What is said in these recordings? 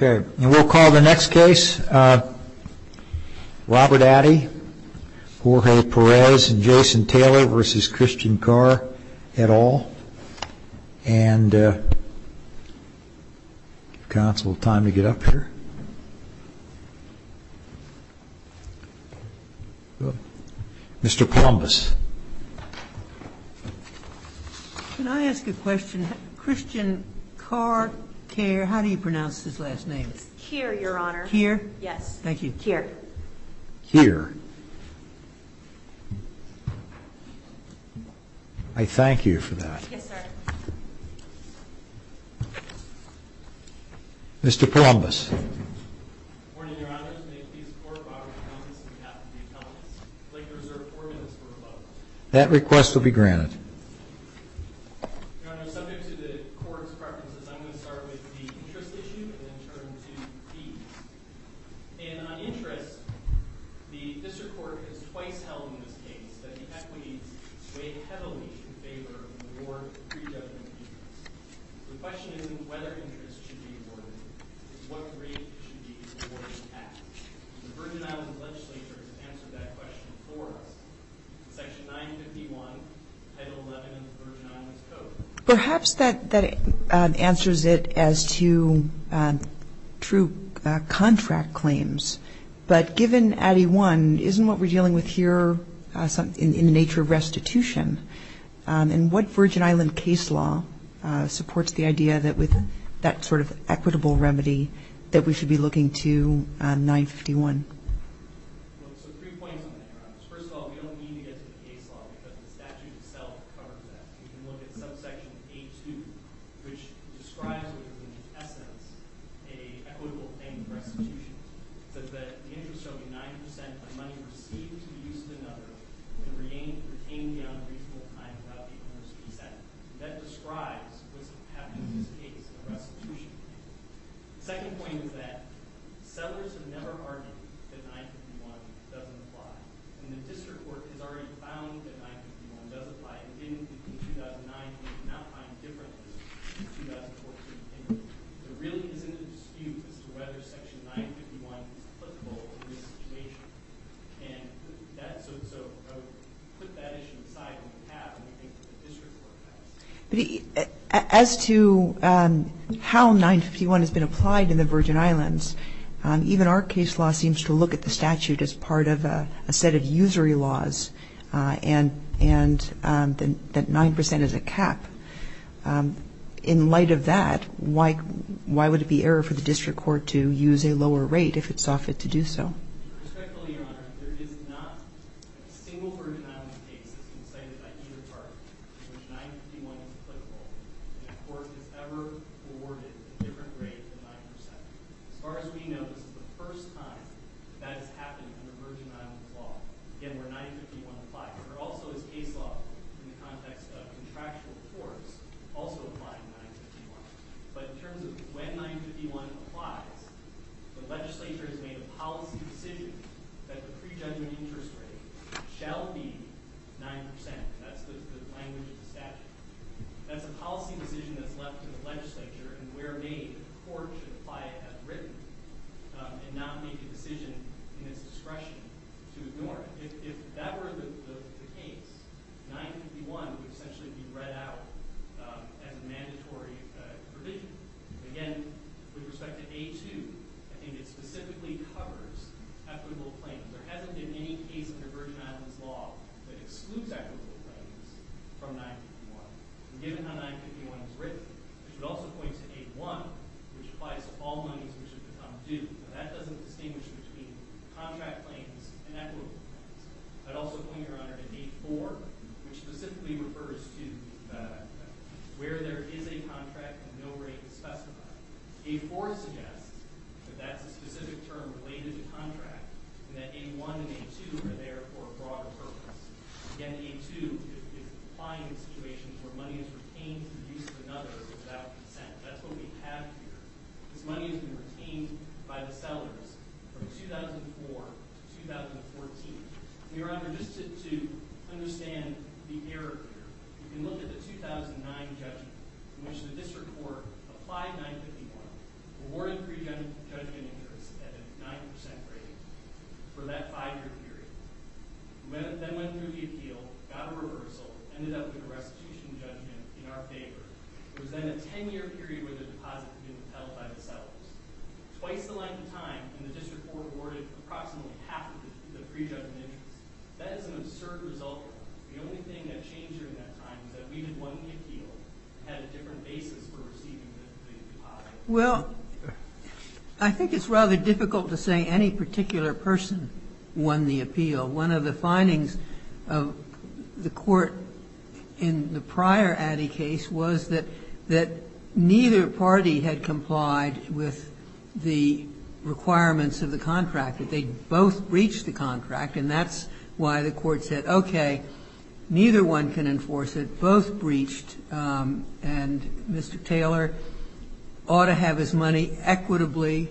And we'll call the next case, Robert Addy, Jorge Perez and Jason Taylor v. Christian Kjaer et al. And counsel, time to get up here. Mr. Plumbus. Can I ask a question? Christian Kjaer, how do you pronounce his last name? Kjaer, your honor. Kjaer? Yes. Thank you. Kjaer. Kjaer. I thank you for that. Yes, sir. Mr. Plumbus. Good morning, your honors. May it please the court, Robert Plumbus, on behalf of the appellants, I'd like to reserve four minutes for a vote. That request will be granted. Your honor, subject to the court's preferences, I'm going to start with the interest issue and then turn to fees. And on interest, the district court has twice held in this case that the equities weigh heavily in favor of more pre-judgment fees. The question is whether interest should be awarded. What rate should be awarded at? The Virgin Islands legislature has answered that question for us. Section 951, Title 11 of the Virgin Islands Code. Perhaps that answers it as to true contract claims. But given Addy 1, isn't what we're dealing with here in the nature of restitution? And what Virgin Island case law supports the idea that with that sort of equitable remedy that we should be looking to 951? So three points on that, your honors. First of all, we don't need to get to the case law because the statute itself covers that. We can look at subsection A2, which describes what is in essence an equitable thing for restitution. It says that the interest should be 90% of money received to be used in another and retained beyond a reasonable time without the owner's consent. And that describes what's happening in this case in a restitution. The second point is that settlers have never argued that 951 doesn't apply. And the district court has already found that 951 does apply. It didn't in 2009. It did not find different in 2014. There really isn't a dispute as to whether section 951 is applicable in this situation. And so to put that issue aside, we have a district court case. As to how 951 has been applied in the Virgin Islands, even our case law seems to look at the statute as part of a set of usury laws and that 9% is a cap. In light of that, why would it be error for the district court to use a lower rate if it saw fit to do so? Respectfully, Your Honor, there is not a single Virgin Islands case that has been cited by either party in which 951 is applicable. And a court has ever awarded a different rate than 9%. As far as we know, this is the first time that has happened under Virgin Islands law. Again, where 951 applies. There also is case law in the context of contractual courts also applying 951. But in terms of when 951 applies, the legislature has made a policy decision that the prejudgment interest rate shall be 9%. That's the language of the statute. That's a policy decision that's left to the legislature and where made, the court should apply it as written and not make a decision in its discretion to ignore it. If that were the case, 951 would essentially be read out as a mandatory provision. Again, with respect to A2, I think it specifically covers equitable claims. There hasn't been any case under Virgin Islands law that excludes equitable claims from 951. And given how 951 is written, it should also point to A1, which applies to all monies which have become due. That doesn't distinguish between contract claims and equitable claims. I'd also point, Your Honor, to A4, which specifically refers to where there is a contract and no rate is specified. A4 suggests that that's a specific term related to contract and that A1 and A2 are there for a broader purpose. Again, A2 is applying in situations where money is retained for the use of another without consent. That's what we have here. This money has been retained by the sellers from 2004 to 2014. Your Honor, just to understand the error here, you can look at the 2009 judgment in which the district court applied 951, awarded pre-judgment interest at a 9% rate for that five-year period, then went through the appeal, got a reversal, ended up with a restitution judgment in our favor. It was then a 10-year period where the deposit had been held by the sellers. Twice the length of time, and the district court awarded approximately half of the pre-judgment interest. That is an absurd result. The only thing that changed during that time is that we had won the appeal and had a different basis for receiving the deposit. Well, I think it's rather difficult to say any particular person won the appeal. One of the findings of the court in the prior Addy case was that neither party had complied with the requirements of the contract, that they both breached the contract. And that's why the court said, okay, neither one can enforce it. Both breached. And Mr. Taylor ought to have his money equitably,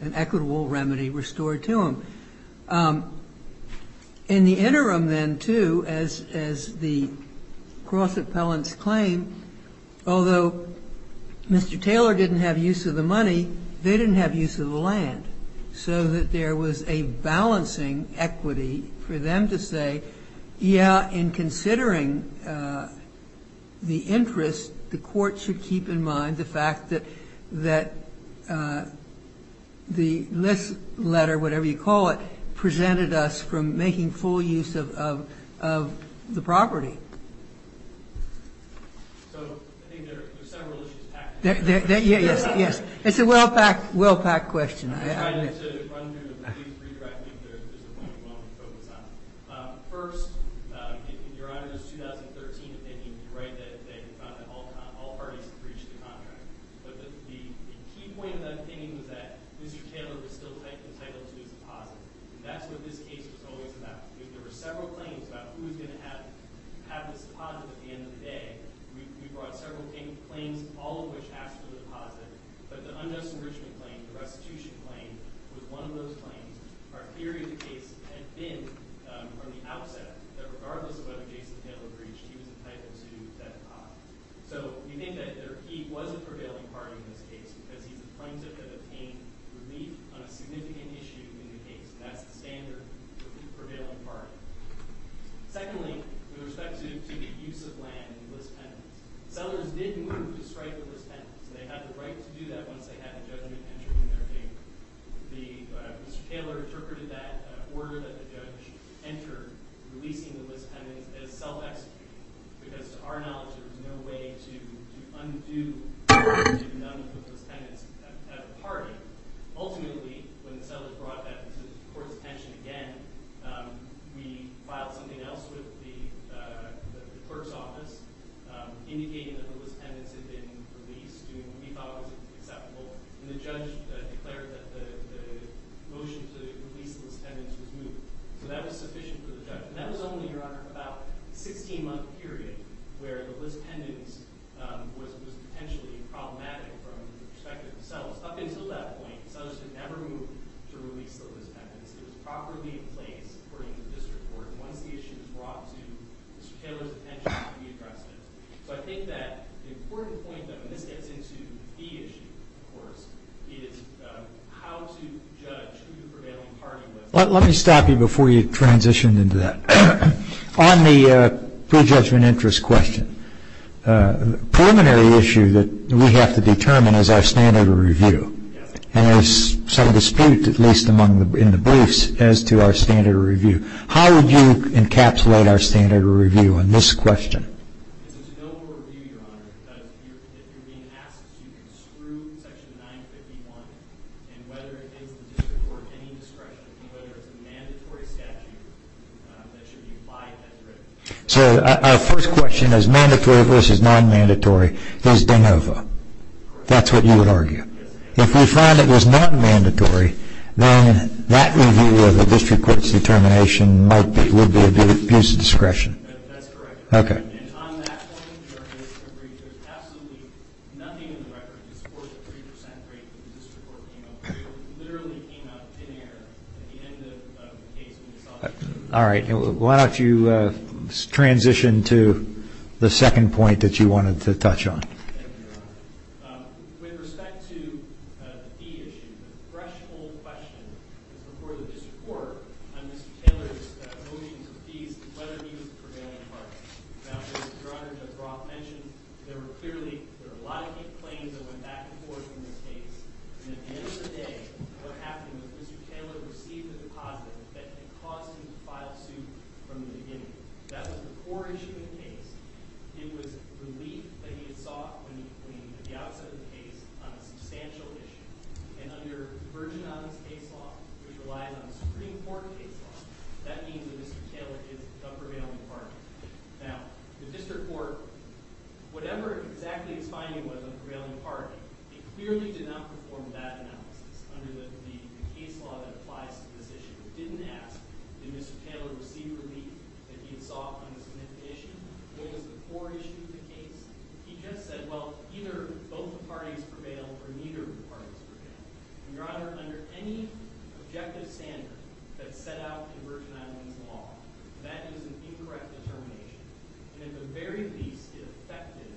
an equitable remedy restored to him. In the interim then, too, as the cross-appellants claim, although Mr. Taylor didn't have use of the money, they didn't have use of the land. So that there was a balancing equity for them to say, yeah, in considering the interest, the court should keep in mind the fact that the list letter, whatever you call it, presented us from making full use of the property. Yes. It's a well-packed, well-packed question. I'm trying to run through it, but please redirect me if there's a point you want me to focus on. First, in your Honor's 2013 opinion, you're right that they found that all parties breached the contract. But the key point of that opinion was that Mr. Taylor was still entitled to his deposit. And that's what this case was always about. There were several claims about who was going to have this deposit at the end of the day. We brought several claims, all of which asked for the deposit. But the unjust enrichment claim, the restitution claim, was one of those claims. Our theory of the case had been from the outset that regardless of whether Jason Taylor breached, he was entitled to that deposit. So you think that he was a prevailing party in this case because he's a plaintiff that obtained relief on a significant issue in the case. And that's the standard for the prevailing party. Secondly, with respect to the use of land in the list pendants, sellers did move to strike the list pendants. So they had the right to do that once they had the judgment entered in their favor. Mr. Taylor interpreted that order that the judge entered, releasing the list pendants, as self-executing. Because to our knowledge, there was no way to undo the murder of none of the list pendants at the party. Ultimately, when the sellers brought that to the court's attention again, we filed something else with the clerk's office, indicating that the list pendants had been released, doing what we thought was acceptable. And the judge declared that the motion to release the list pendants was moved. So that was sufficient for the judge. And that was only, Your Honor, about a 16-month period where the list pendants was potentially problematic from the perspective of the sellers. Up until that point, the sellers had never moved to release the list pendants. It was properly in place, according to this report, once the issue was brought to Mr. Taylor's attention to be addressed. So I think that the important point, though, and this gets into the issue, of course, is how to judge who the prevailing party was. Let me stop you before you transition into that. On the prejudgment interest question, a preliminary issue that we have to determine is our standard of review. And there's some dispute, at least in the briefs, as to our standard of review. How would you encapsulate our standard of review on this question? It's a de novo review, Your Honor, because if you're being asked to, you can screw Section 951. And whether it is the district or any discretion, whether it's a mandatory statute that should be applied, that's written. So our first question is, mandatory versus non-mandatory, is de novo. That's what you would argue? Yes. If we found it was non-mandatory, then that review of the district court's determination might be a bit of abuse of discretion. That's correct. Okay. And on that point, Your Honor, I agree. There's absolutely nothing in the record to support the 3% rate that the district court came up with. It literally came up in error at the end of the case. All right. Why don't you transition to the second point that you wanted to touch on? Thank you, Your Honor. With respect to the fee issue, the threshold question is before the district court on Mr. Taylor's motions of fees and whether he was a prevailing party. Now, as Your Honor, Judge Roth mentioned, there were clearly a lot of deep claims that went back and forth in this case. And at the end of the day, what happened was Mr. Taylor received a deposit that had caused him to file suit from the beginning. That was the core issue of the case. It was relief that he had sought at the outset of the case on a substantial issue. And under the Virgin Islands case law, which relies on the Supreme Court case law, that means that Mr. Taylor is a prevailing party. Now, the district court, whatever exactly its finding was of a prevailing party, it clearly did not perform that analysis under the case law that applies to this issue. It didn't ask did Mr. Taylor receive relief that he had sought on this significant issue. That was the core issue of the case. He just said, well, either both parties prevail or neither of the parties prevail. And, Your Honor, under any objective standard that's set out in Virgin Islands law, that is an incorrect determination. And at the very least, it affected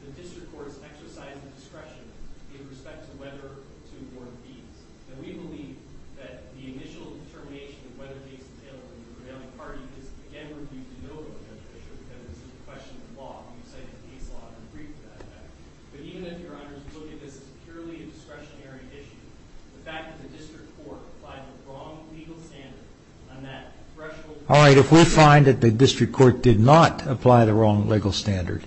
the district court's exercise of discretion in respect to whether to award fees. And we believe that the initial determination of whether the case is ailing the prevailing party is, again, reviewed to no avail, because it's a question of law. We've cited the case law and we agree with that. But even if, Your Honor, you look at this as purely a discretionary issue, the fact that the district court applied the wrong legal standard on that threshold... All right, if we find that the district court did not apply the wrong legal standard,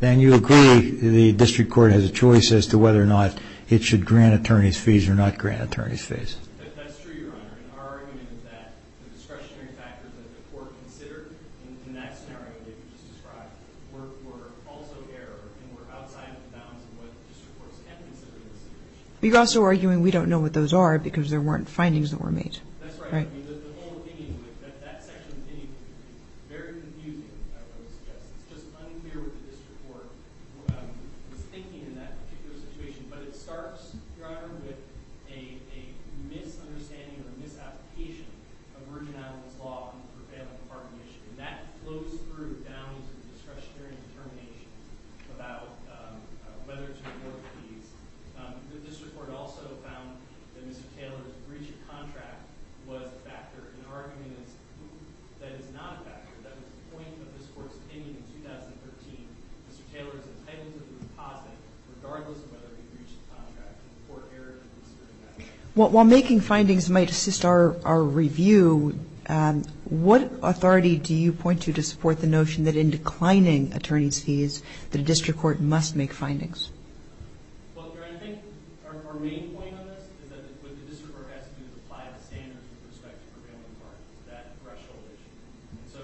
then you agree the district court has a choice as to whether or not it should grant attorneys fees or not grant attorneys fees. That's true, Your Honor. And our argument is that the discretionary factors that the court considered in that scenario that you just described were also error and were outside of the bounds of what district courts had considered in the situation. You're also arguing we don't know what those are because there weren't findings that were made. That's right. The whole thing is that that section is very confusing, I would suggest. It's just unclear what the district court was thinking in that particular situation. But it starts, Your Honor, with a misunderstanding or a misapplication of Virgin Islands law on the prevailing party issue. And that flows through bounds of discretionary determination about whether to award fees. The district court also found that Mr. Taylor's breach of contract was a factor. And our argument is that it's not a factor. That was the point of this court's opinion in 2013. Mr. Taylor is entitled to the deposit regardless of whether he breached the contract. And the court erred in considering that. While making findings might assist our review, what authority do you point to to support the notion that in declining attorneys fees the district court must make findings? Well, Your Honor, I think our main point on this is that what the district court has to do is apply the standards with respect to prevailing parties, that threshold issue. So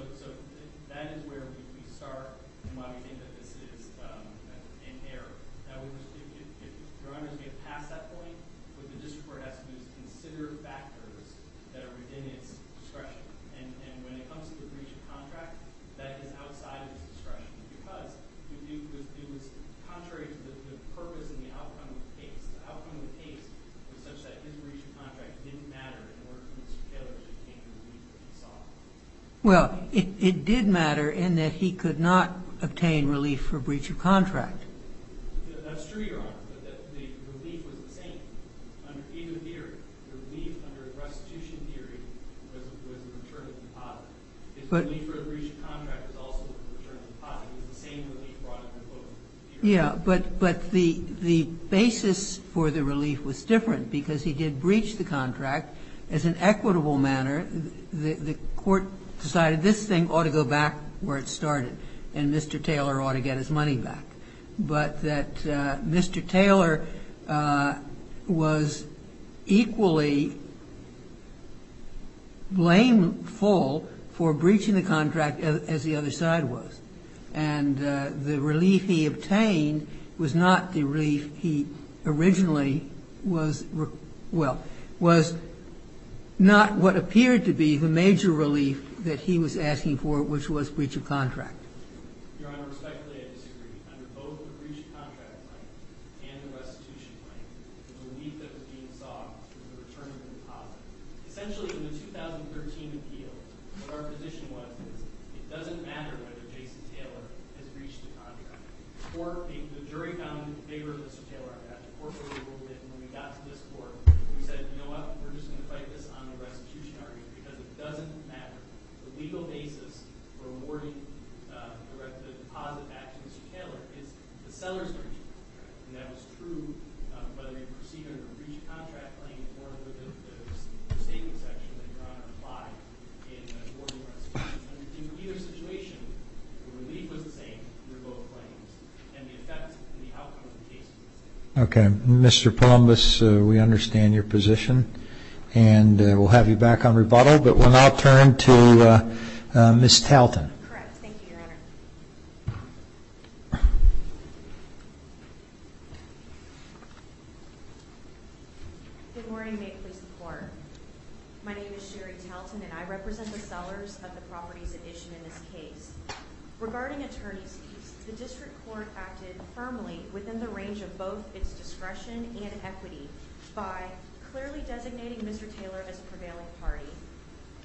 that is where we start and why we think that this is in error. Your Honor, as we get past that point, what the district court has to do is consider factors that are within its discretion. And when it comes to the breach of contract, that is outside its discretion. Because it was contrary to the purpose and the outcome of the case. The outcome of the case was such that his breach of contract didn't matter in order for Mr. Taylor to obtain the relief that he sought. Well, it did matter in that he could not obtain relief for breach of contract. That's true, Your Honor, but the relief was the same under either theory. The relief under restitution theory was a maternity deposit. If the relief for a breach of contract was also a maternity deposit, it was the same relief brought under both theories. Yeah, but the basis for the relief was different because he did breach the contract. As an equitable manner, the court decided this thing ought to go back where it started and Mr. Taylor ought to get his money back. But that Mr. Taylor was equally blameful for his breach of contract for breaching the contract as the other side was. And the relief he obtained was not the relief he originally was, well, was not what appeared to be the major relief that he was asking for, which was breach of contract. Your Honor, respectfully, I disagree. Under both the breach of contract claim and the restitution claim, the relief that was being sought was a maternity deposit. Essentially, in the 2013 appeal, what our position was is it doesn't matter whether Jason Taylor has breached the contract. The jury found in favor of Mr. Taylor. The court really ruled it. And when we got to this court, we said, you know what, we're just going to fight this on the restitution argument because it doesn't matter. The legal basis for awarding the deposit back to Mr. Taylor is the seller's breach of contract. And that was true whether you proceeded under the breach of contract claim or the restatement section that Your Honor applied in awarding restitution. In either situation, the relief was the same under both claims. And the effect and the outcome of the case is the same. Okay. Mr. Palumbus, we understand your position. And we'll have you back on rebuttal. But we'll now turn to Ms. Talton. Correct. Thank you, Your Honor. Good morning. May it please the Court. My name is Sherry Talton, and I represent the sellers of the properties at issue in this case. Regarding attorney's fees, the district court acted firmly within the range of both its discretion and equity by clearly designating Mr. Taylor as a prevailing party,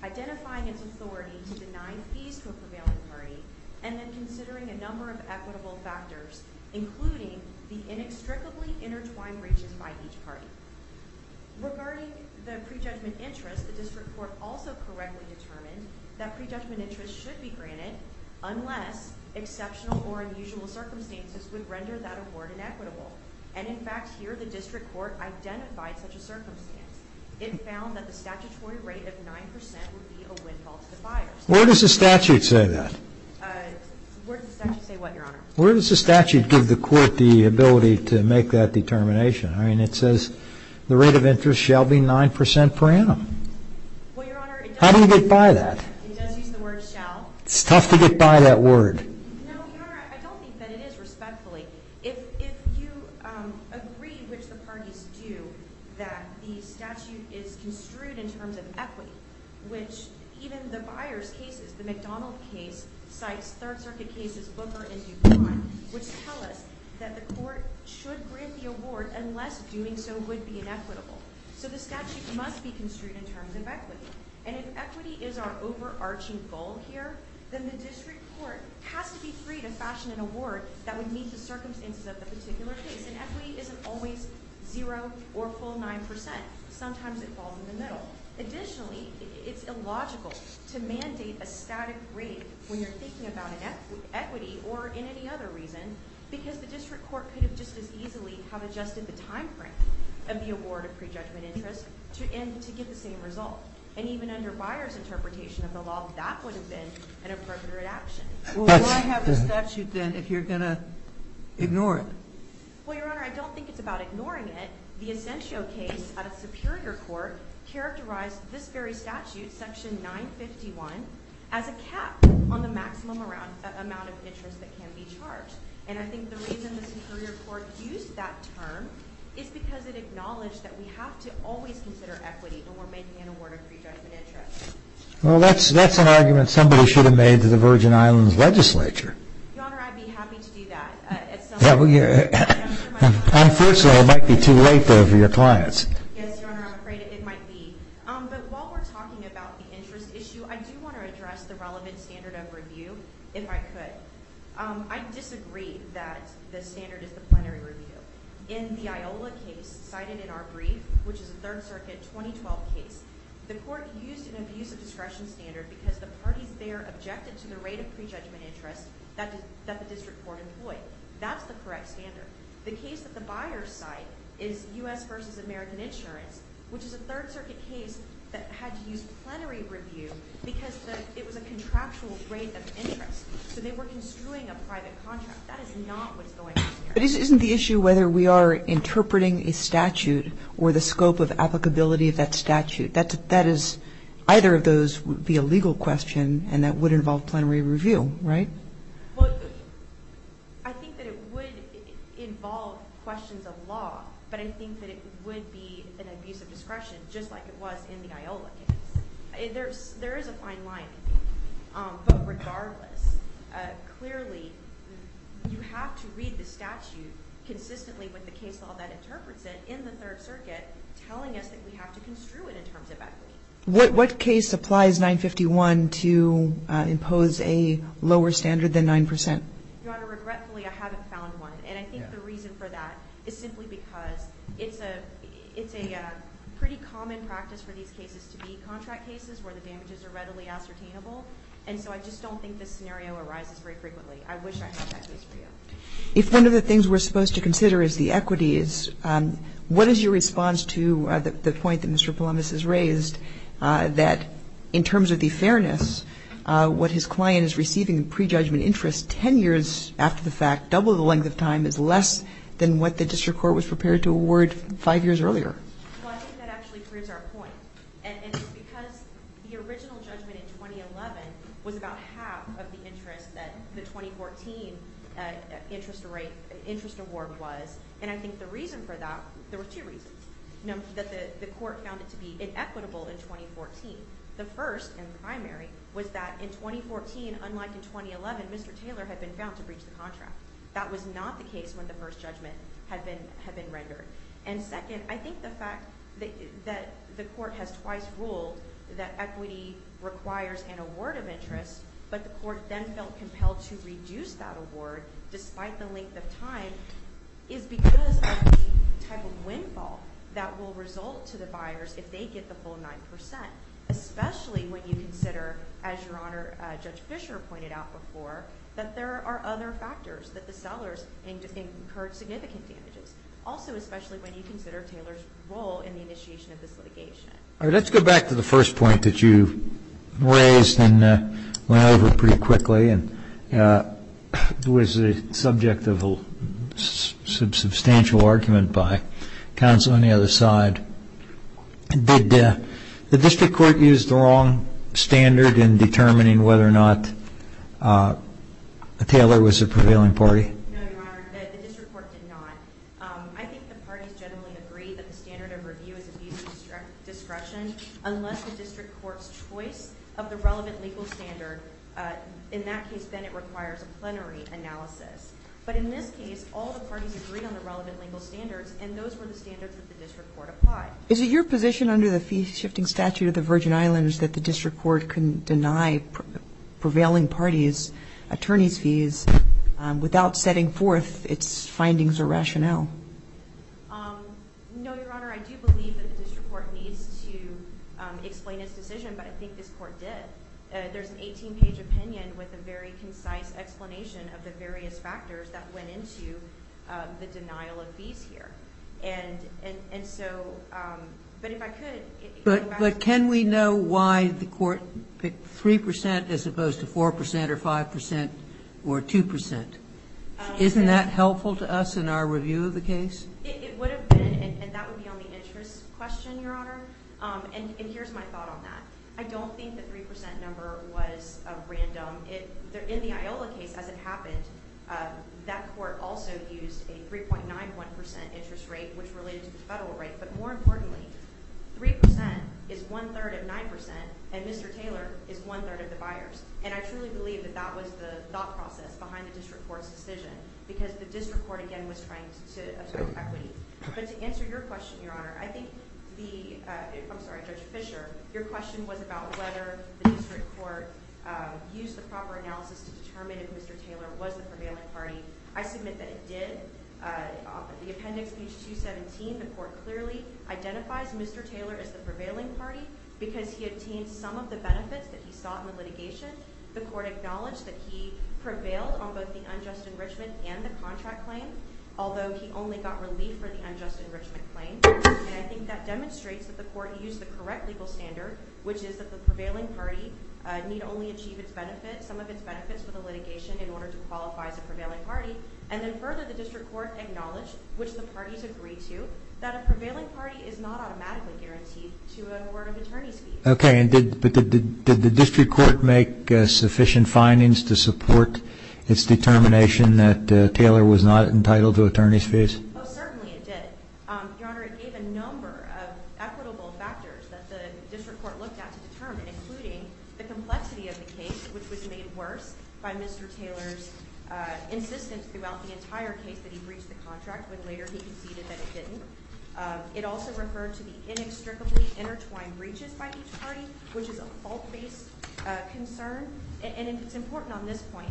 identifying its authority to deny fees to a prevailing party, and then considering a number of equitable factors, including the inextricably intertwined breaches by each party. Regarding the prejudgment interest, the district court also correctly determined that prejudgment interest should be granted unless exceptional or unusual circumstances would render that award inequitable. And, in fact, here the district court identified such a circumstance. It found that the statutory rate of 9 percent would be a windfall to the buyers. Where does the statute say that? Where does the statute say what, Your Honor? Where does the statute give the court the ability to make that determination? I mean, it says the rate of interest shall be 9 percent per annum. Well, Your Honor, it does. How do you get by that? It does use the word shall. It's tough to get by that word. No, Your Honor, I don't think that it is, respectfully. If you agree, which the parties do, that the statute is construed in terms of equity, which even the buyers' cases, the McDonald case, Sykes, Third Circuit cases, Booker, and DuPont, which tell us that the court should grant the award unless doing so would be inequitable. So the statute must be construed in terms of equity. And if equity is our overarching goal here, then the district court has to be free to fashion an award that would meet the circumstances of the particular case. And equity isn't always zero or full 9 percent. Sometimes it falls in the middle. Additionally, it's illogical to mandate a static rate when you're thinking about an equity or in any other reason because the district court could have just as easily have adjusted the timeframe of the award of prejudgment interest to get the same result. And even under buyers' interpretation of the law, that would have been an appropriate action. Will I have the statute then if you're going to ignore it? Well, Your Honor, I don't think it's about ignoring it. The Ascensio case at a superior court characterized this very statute, Section 951, as a cap on the maximum amount of interest that can be charged. And I think the reason the superior court used that term is because it acknowledged that we have to always consider equity when we're making an award of prejudgment interest. Well, that's an argument somebody should have made to the Virgin Islands legislature. Your Honor, I'd be happy to do that. Unfortunately, it might be too late for your clients. Yes, Your Honor, I'm afraid it might be. But while we're talking about the interest issue, I do want to address the relevant standard of review, if I could. I disagree that the standard is the plenary review. In the Iola case cited in our brief, which is a Third Circuit 2012 case, the court used an abusive discretion standard because the parties there objected to the rate of prejudgment interest that the district court employed. That's the correct standard. The case that the buyers cite is U.S. v. American Insurance, which is a Third Circuit case that had to use plenary review because it was a contractual rate of interest. So they were construing a private contract. That is not what's going on here. But isn't the issue whether we are interpreting a statute or the scope of applicability of that statute? That is either of those would be a legal question, and that would involve plenary review, right? Well, I think that it would involve questions of law, but I think that it would be an abusive discretion, just like it was in the Iola case. There is a fine line, but regardless, clearly you have to read the statute consistently with the case law that interprets it in the Third Circuit telling us that we have to construe it in terms of equity. What case applies 951 to impose a lower standard than 9%? Your Honor, regretfully, I haven't found one. And I think the reason for that is simply because it's a pretty common practice for these cases to be contract cases where the damages are readily ascertainable. And so I just don't think this scenario arises very frequently. I wish I had that case for you. If one of the things we're supposed to consider is the equities, what is your response to the point that Mr. Palamas has raised, that in terms of the fairness, what his client is receiving in prejudgment interest 10 years after the fact, double the length of time, is less than what the district court was prepared to award five years earlier? Well, I think that actually proves our point. And it's because the original judgment in 2011 was about half of the interest that the 2014 interest rate, interest award was. And I think the reason for that, there were two reasons, you know, that the court found it to be inequitable in 2014. The first, in the primary, was that in 2014, unlike in 2011, Mr. Taylor had been found to breach the contract. That was not the case when the first judgment had been rendered. And second, I think the fact that the court has twice ruled that equity requires an award of interest, but the court then felt compelled to reduce that award despite the length of time, is because of the type of windfall that will result to the buyers if they get the full 9%, especially when you consider, as Your Honor, Judge Fischer pointed out before, that there are other factors, that the sellers incurred significant damages. Also, especially when you consider Taylor's role in the initiation of this litigation. All right, let's go back to the first point that you raised and went over pretty quickly and was the subject of a substantial argument by counsel on the other side. Did the district court use the wrong standard in determining whether or not Taylor was a prevailing party? No, Your Honor, the district court did not. I think the parties generally agree that the standard of review is abuse of discretion, unless the district court's choice of the relevant legal standard. In that case, then, it requires a plenary analysis. But in this case, all the parties agreed on the relevant legal standards, and those were the standards that the district court applied. Is it your position under the fee-shifting statute of the Virgin Islands that the district court can deny prevailing parties attorneys' fees without setting forth its findings or rationale? No, Your Honor. I do believe that the district court needs to explain its decision, but I think this court did. There's an 18-page opinion with a very concise explanation of the various factors that went into the denial of fees here. And so, but if I could go back to that. But can we know why the court picked 3% as opposed to 4% or 5% or 2%? Isn't that helpful to us in our review of the case? It would have been, and that would be on the interest question, Your Honor. And here's my thought on that. I don't think the 3% number was random. In the Iola case, as it happened, that court also used a 3.91% interest rate, which related to the federal rate. But more importantly, 3% is one-third of 9%, and Mr. Taylor is one-third of the buyers. And I truly believe that that was the thought process behind the district court's decision, because the district court, again, was trying to absorb equity. But to answer your question, Your Honor, I think the – I'm sorry, Judge Fischer – your question was about whether the district court used the proper analysis to determine if Mr. Taylor was the prevailing party. I submit that it did. The appendix, page 217, the court clearly identifies Mr. Taylor as the prevailing party because he obtained some of the benefits that he sought in the litigation. The court acknowledged that he prevailed on both the unjust enrichment and the contract claim, although he only got relief for the unjust enrichment claim. And I think that demonstrates that the court used the correct legal standard, which is that the prevailing party need only achieve its benefits, some of its benefits, for the litigation in order to qualify as a prevailing party. And then further, the district court acknowledged, which the parties agreed to, that a prevailing party is not automatically guaranteed to a court of attorney's fees. Okay, but did the district court make sufficient findings to support its determination that Taylor was not entitled to attorney's fees? Oh, certainly it did. Your Honor, it gave a number of equitable factors that the district court looked at to determine, including the complexity of the case, which was made worse by Mr. Taylor's insistence throughout the entire case that he breached the contract, when later he conceded that he didn't. It also referred to the inextricably intertwined breaches by each party, which is a fault-based concern. And it's important on this point.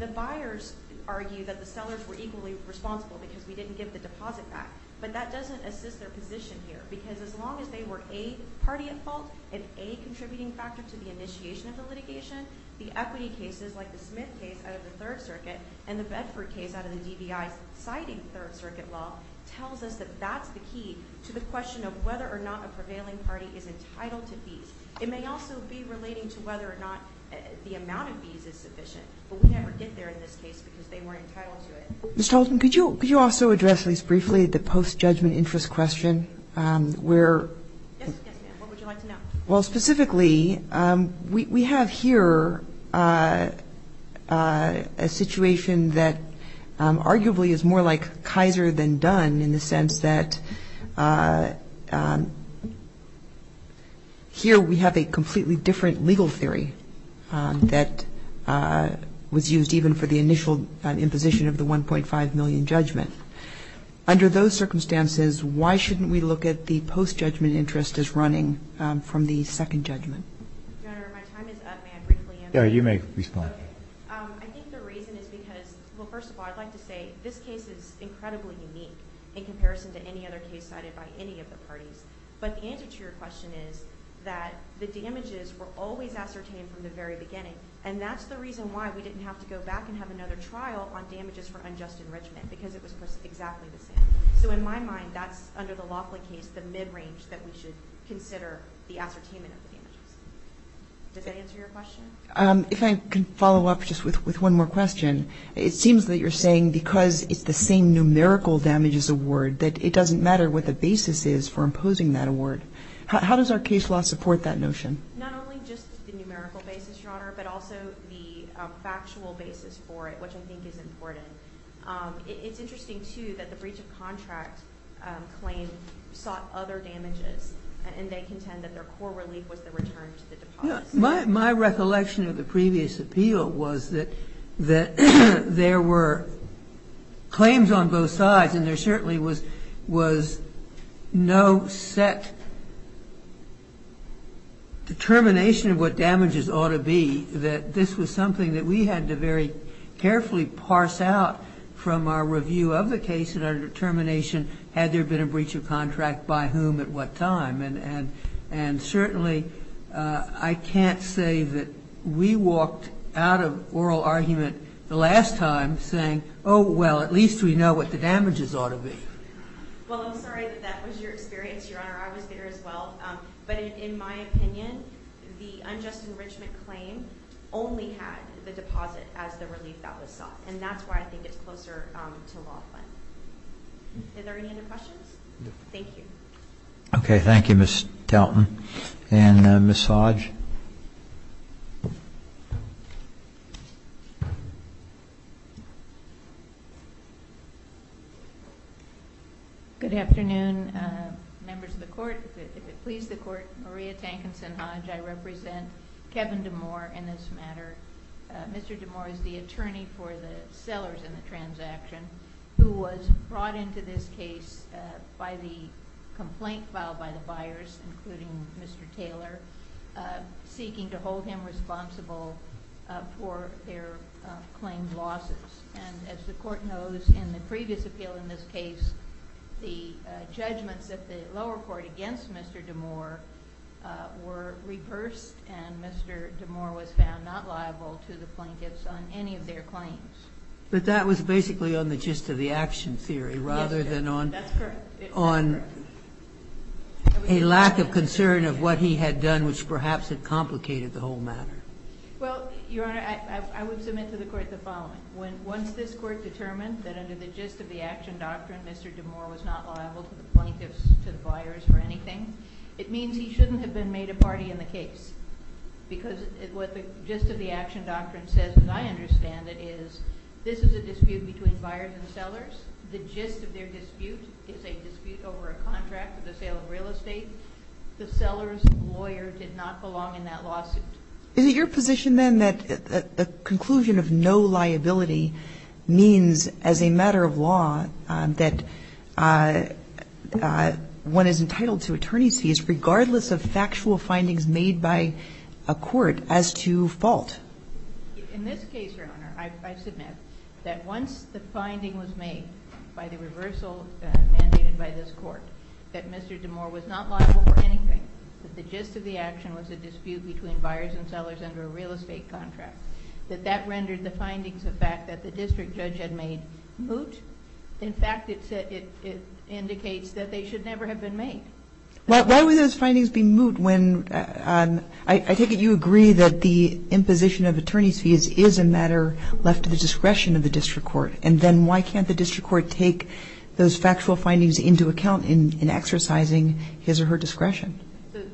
The buyers argue that the sellers were equally responsible because we didn't give the deposit back. But that doesn't assist their position here, because as long as they were a party at fault and a contributing factor to the initiation of the litigation, the equity cases, like the Smith case out of the Third Circuit and the Bedford case out of the DVI, citing Third Circuit law, tells us that that's the key to the question of whether or not a prevailing party is entitled to fees. It may also be relating to whether or not the amount of fees is sufficient. But we never did there in this case because they weren't entitled to it. Ms. Talton, could you also address this briefly, the post-judgment interest question? Yes, ma'am. What would you like to know? Well, specifically, we have here a situation that arguably is more like Kaiser than Dunn in the sense that here we have a completely different legal theory that was used even for the initial imposition of the $1.5 million judgment. Under those circumstances, why shouldn't we look at the post-judgment interest as running from the second judgment? Your Honor, if my time is up, may I briefly answer? Yeah, you may respond. Okay. I think the reason is because, well, first of all, I'd like to say this case is incredibly unique in comparison to any other case cited by any of the parties. But the answer to your question is that the damages were always ascertained from the very beginning. And that's the reason why we didn't have to go back and have another trial on damages for unjust enrichment because it was exactly the same. So in my mind, that's, under the Laughlin case, the mid-range that we should consider the ascertainment of the damages. Does that answer your question? If I can follow up just with one more question. It seems that you're saying because it's the same numerical damages award that it doesn't matter what the basis is for imposing that award. How does our case law support that notion? Not only just the numerical basis, Your Honor, but also the factual basis for it, which I think is important. It's interesting, too, that the breach of contract claim sought other damages. And they contend that their core relief was the return to the deposit. My recollection of the previous appeal was that there were claims on both sides and there certainly was no set determination of what damages ought to be, that this was something that we had to very carefully parse out from our review of the case and our determination, had there been a breach of contract, by whom, at what time. And certainly, I can't say that we walked out of oral argument the last time saying, oh, well, at least we know what the damages ought to be. Well, I'm sorry that that was your experience, Your Honor. I was there as well. But in my opinion, the unjust enrichment claim only had the deposit as the relief that was sought. And that's why I think it's closer to Laughlin. Are there any other questions? No. Thank you. Okay, thank you, Ms. Talton. And Ms. Hodge? Good afternoon, members of the Court. If it pleases the Court, Maria Tankinson Hodge. I represent Kevin DeMoore in this matter. Mr. DeMoore is the attorney for the sellers in the transaction who was brought into this case by the complaint filed by the buyers, including Mr. Taylor, seeking to hold him responsible for their claimed losses. And as the Court knows, in the previous appeal in this case, the judgments at the lower court against Mr. DeMoore were reversed, and Mr. DeMoore was found not liable to the plaintiffs on any of their claims. But that was basically on the gist of the action theory rather than on a lack of concern of what he had done, which perhaps had complicated the whole matter. Well, Your Honor, I would submit to the Court the following. Once this Court determined that under the gist of the action doctrine Mr. DeMoore was not liable to the plaintiffs, to the buyers or anything, it means he shouldn't have been made a party in the case. Because what the gist of the action doctrine says, as I understand it, is this is a dispute between buyers and sellers. The gist of their dispute is a dispute over a contract for the sale of real estate. The seller's lawyer did not belong in that lawsuit. Is it your position, then, that a conclusion of no liability means as a matter of law that one is entitled to attorney's fees regardless of factual findings made by a court as to fault? In this case, Your Honor, I submit that once the finding was made by the reversal mandated by this Court that Mr. DeMoore was not liable for anything, that the gist of the action was a dispute between buyers and sellers under a real estate contract, that that rendered the findings of fact that the district judge had made moot. In fact, it indicates that they should never have been made. But why would those findings be moot when, I take it you agree that the imposition of attorney's fees is a matter left to the discretion of the district court? And then why can't the district court take those factual findings into account in exercising his or her discretion?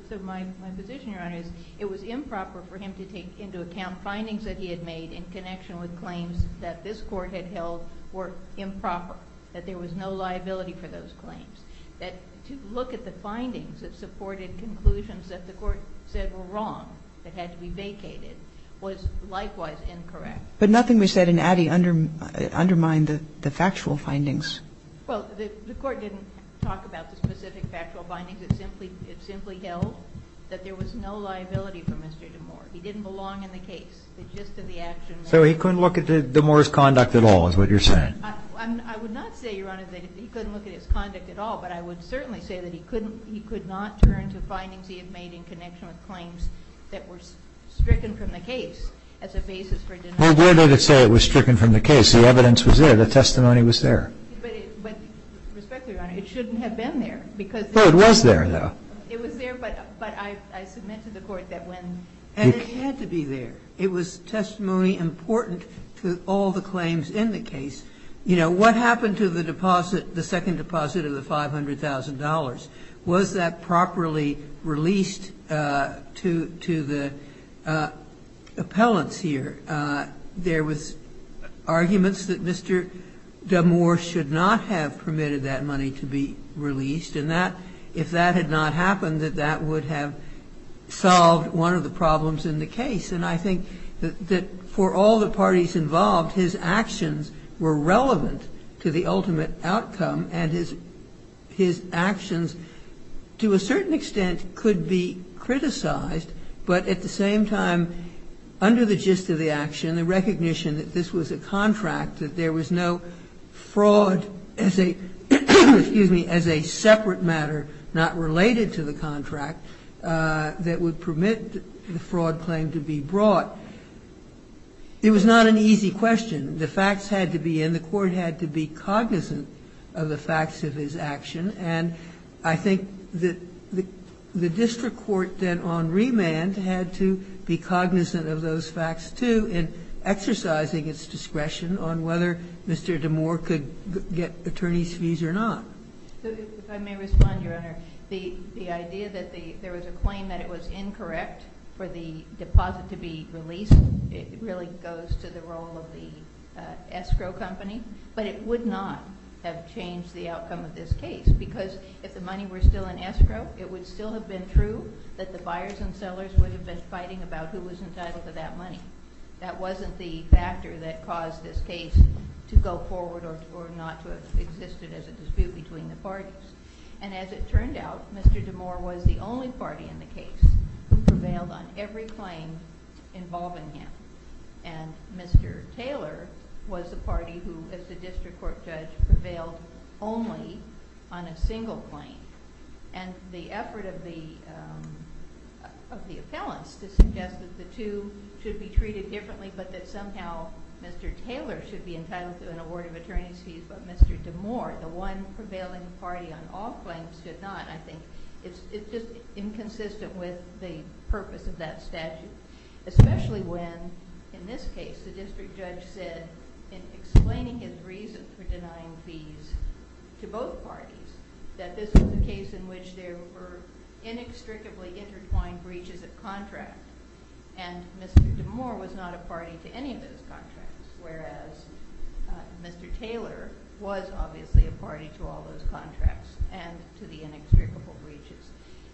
So my position, Your Honor, is it was improper for him to take into account findings that he had made in connection with claims that this Court had held were improper, that there was no liability for those claims. That to look at the findings that supported conclusions that the Court said were wrong, that had to be vacated, was likewise incorrect. But nothing we said in Addy undermined the factual findings. Well, the Court didn't talk about the specific factual findings. It simply held that there was no liability for Mr. DeMoore. He didn't belong in the case. The gist of the action was. So he couldn't look at DeMoore's conduct at all is what you're saying? I would not say, Your Honor, that he couldn't look at his conduct at all, but I would certainly say that he could not turn to findings he had made in connection with claims that were stricken from the case as a basis for a denial. Well, where did it say it was stricken from the case? The evidence was there. The testimony was there. But with respect to you, Your Honor, it shouldn't have been there, because. No, it was there, though. It was there, but I submitted to the Court that when. And it had to be there. It was testimony important to all the claims in the case. You know, what happened to the deposit, the second deposit of the $500,000? Was that properly released to the appellants here? There was arguments that Mr. DeMoore should not have permitted that money to be released, and that if that had not happened, that that would have solved one of the problems in the case. And I think that for all the parties involved, his actions were relevant to the ultimate outcome, and his actions to a certain extent could be criticized, but at the same time, under the gist of the action, the recognition that this was a contract, that there was no fraud as a separate matter not related to the contract that would permit the fraud claim to be brought. It was not an easy question. The facts had to be in. And the Court had to be cognizant of the facts of his action. And I think that the district court then on remand had to be cognizant of those facts, too, in exercising its discretion on whether Mr. DeMoore could get attorney's fees or not. If I may respond, Your Honor. The idea that there was a claim that it was incorrect for the deposit to be released, it really goes to the role of the escrow company. But it would not have changed the outcome of this case, because if the money were still in escrow, it would still have been true that the buyers and sellers would have been fighting about who was entitled to that money. That wasn't the factor that caused this case to go forward or not to have existed as a dispute between the parties. And as it turned out, Mr. DeMoore was the only party in the case who prevailed on every claim involving him. And Mr. Taylor was the party who, as the district court judge, prevailed only on a single claim. And the effort of the appellants to suggest that the two should be treated differently, but that somehow Mr. Taylor should be entitled to an award of attorney's fees, but Mr. DeMoore, the one prevailing party on all claims, should not. I think it's just inconsistent with the purpose of that statute, especially when, in this case, the district judge said, in explaining his reason for denying fees to both parties, that this was a case in which there were inextricably intertwined breaches of contract. And Mr. DeMoore was not a party to any of those contracts, whereas Mr. Taylor was obviously a party to all those contracts and to the inextricable breaches.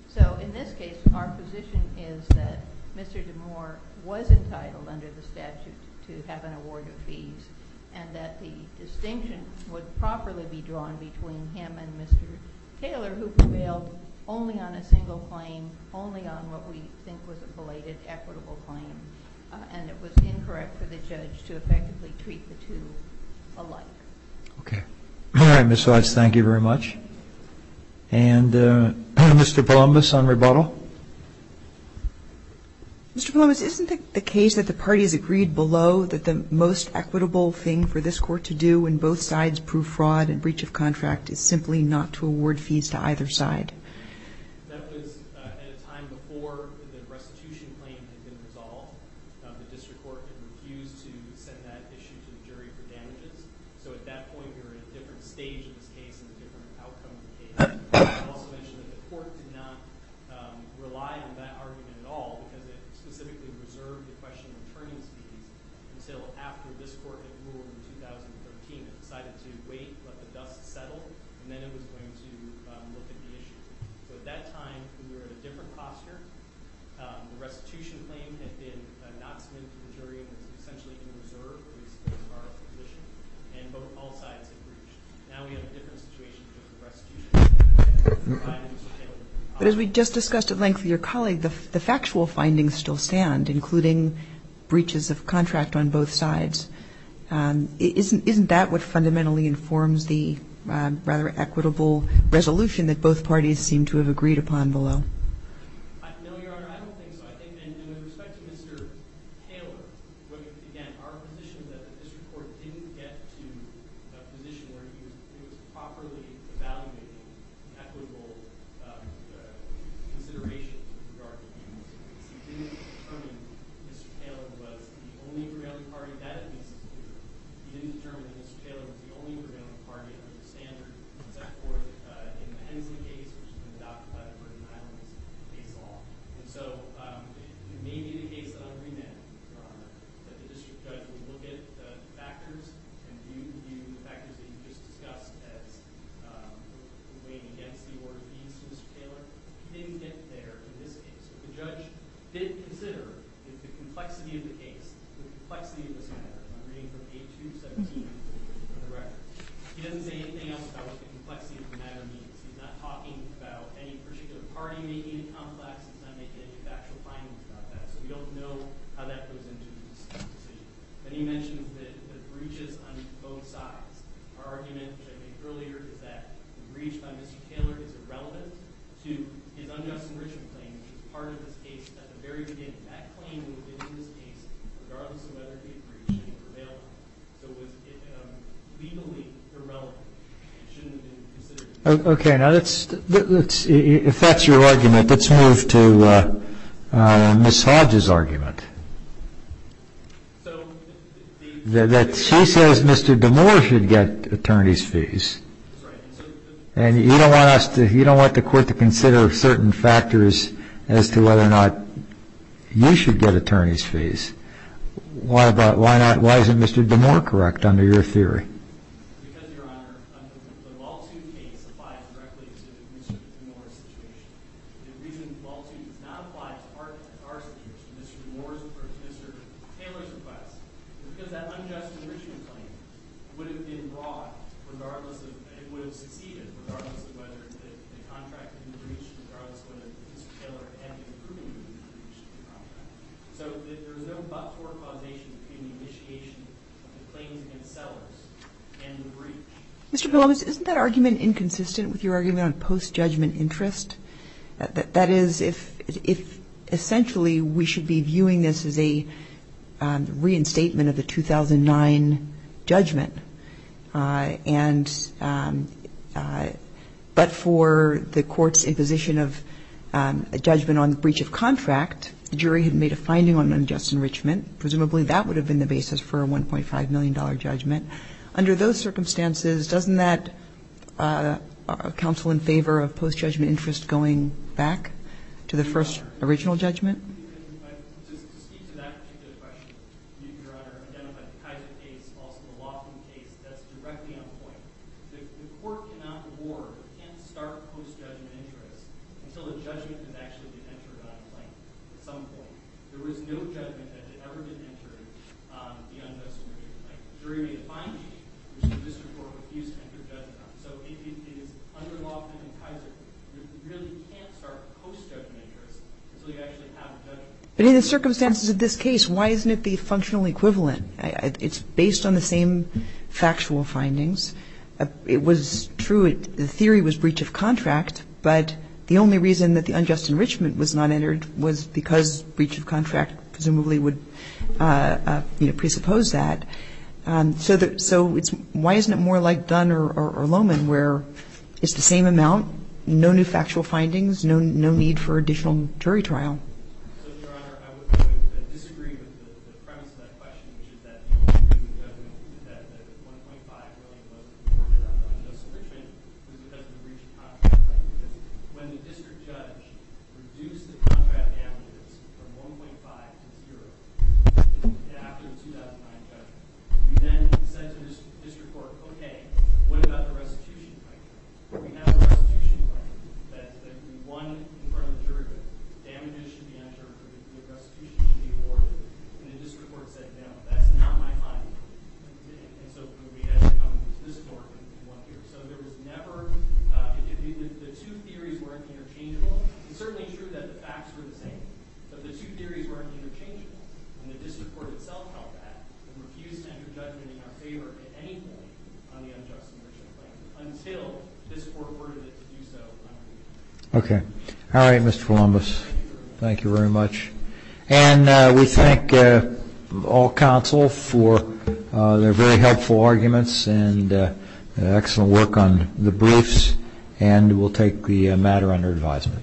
So in this case, our position is that Mr. DeMoore was entitled, under the statute, to have an award of fees, and that the distinction would properly be drawn between him and Mr. Taylor, who prevailed only on a single claim, only on what we think was a belated equitable claim. And it was incorrect for the judge to effectively treat the two alike. Okay. All right, Ms. Watts, thank you very much. And Mr. Palumbis on rebuttal. Mr. Palumbis, isn't it the case that the parties agreed below that the most equitable thing for this Court to do when both sides prove fraud and breach of contract is simply not to award fees to either side? That was at a time before the restitution claim had been resolved. The district court had refused to send that issue to the jury for damages. So at that point, we were at a different stage in this case and a different outcome. I'll also mention that the court did not rely on that argument at all because it specifically reserved the question of returning fees until after this Court had ruled in 2013. It decided to wait, let the dust settle, and then it was going to look at the issue. So at that time, we were in a different posture. The restitution claim had been announcement to the jury and was essentially in reserve as far as the position. And both sides had breached. Now we have a different situation with the restitution claim. But as we just discussed at length with your colleague, the factual findings still stand, including breaches of contract on both sides. Isn't that what fundamentally informs the rather equitable resolution that both parties seem to have agreed upon below? No, Your Honor, I don't think so. And with respect to Mr. Taylor, again, our position is that the district court didn't get to a position where it was properly evaluating equitable considerations with regard to human services. It didn't determine Mr. Taylor was the only prevailing party that had been subdued. It didn't determine that Mr. Taylor was the only prevailing party in the Hensley case, which was adopted by the Northern Highlands case law. And so it may be the case that I'm reading now, Your Honor, that the district judge will look at the factors and view the factors that you just discussed as weighing against the order of the instance, Mr. Taylor. He didn't get there in this case. The judge did consider the complexity of the case, the complexity of this matter. I'm reading from page 273 of the record. He doesn't say anything else about what the complexity of the matter means. He's not talking about any particular party making it complex. He's not making any factual findings about that. So we don't know how that goes into this decision. But he mentions the breaches on both sides. Our argument, which I made earlier, is that the breach by Mr. Taylor is irrelevant to his unjust enrichment claim, which is part of this case. At the very beginning, that claim would have been in this case, regardless of whether he had breached it or prevailed on it. So it was legally irrelevant. It shouldn't have been considered. Okay. Now, if that's your argument, let's move to Ms. Hodge's argument. She says Mr. DeMoore should get attorney's fees. That's right. And you don't want the court to consider certain factors as to whether or not you should get attorney's fees. Why is it Mr. DeMoore correct, under your theory? Because, Your Honor, the Waltoon case applies directly to Mr. DeMoore's situation. The reason Waltoon does not apply to our situation, Mr. Taylor's request, is because that unjust enrichment claim would have been brought regardless of and would have succeeded regardless of whether the contract had been breached, regardless of whether Mr. Taylor had been proven to have breached the contract. So there is no but-for causation between the initiation of the claims against sellers and the breach. Mr. Billow, isn't that argument inconsistent with your argument on post-judgment interest? That is, if essentially we should be viewing this as a reinstatement of the 2009 judgment, and but for the court's imposition of a judgment on the breach of contract, the jury had made a finding on unjust enrichment. Presumably that would have been the basis for a $1.5 million judgment. Under those circumstances, doesn't that counsel in favor of post-judgment interest going back to the first original judgment? To speak to that particular question, Your Honor, identify the Kaiser case, also the Waltoon case, that's directly on point. The court cannot award, can't start post-judgment interest until the judgment has actually been entered on at some point. There was no judgment that had ever been entered on the unjust enrichment. The jury made a finding. The district court refused to enter judgment on it. So it is under law in Kaiser, you really can't start post-judgment interest until you actually have a judgment. But in the circumstances of this case, why isn't it the functional equivalent? It's based on the same factual findings. It was true, the theory was breach of contract, but the only reason that the unjust enrichment was not entered was because breach of contract presumably would presuppose that. So it's why isn't it more like Dunn or Lohman where it's the same amount, no new factual findings, no need for additional jury trial? So, Your Honor, I would disagree with the premise of that question, which is that the only reason that the 1.5 million was reported on the unjust enrichment was because of the breach of contract. When the district judge reduced the contract damages from 1.5 to 0 after the 2009 judgment, we then said to the district court, okay, what about the restitution claim? We have a restitution claim that we won in front of the jury, but damages should be entered, the restitution should be awarded. And the district court said, no, that's not my finding. And so we had to come to this court in one year. So there was never, the two theories weren't interchangeable. It's certainly true that the facts were the same, but the two theories weren't interchangeable. And the district court itself held that and refused to enter judgment in our case until this court ordered it to do so. Okay. All right, Mr. Columbus, thank you very much. And we thank all counsel for their very helpful arguments and excellent work on the briefs, and we'll take the matter under advisement.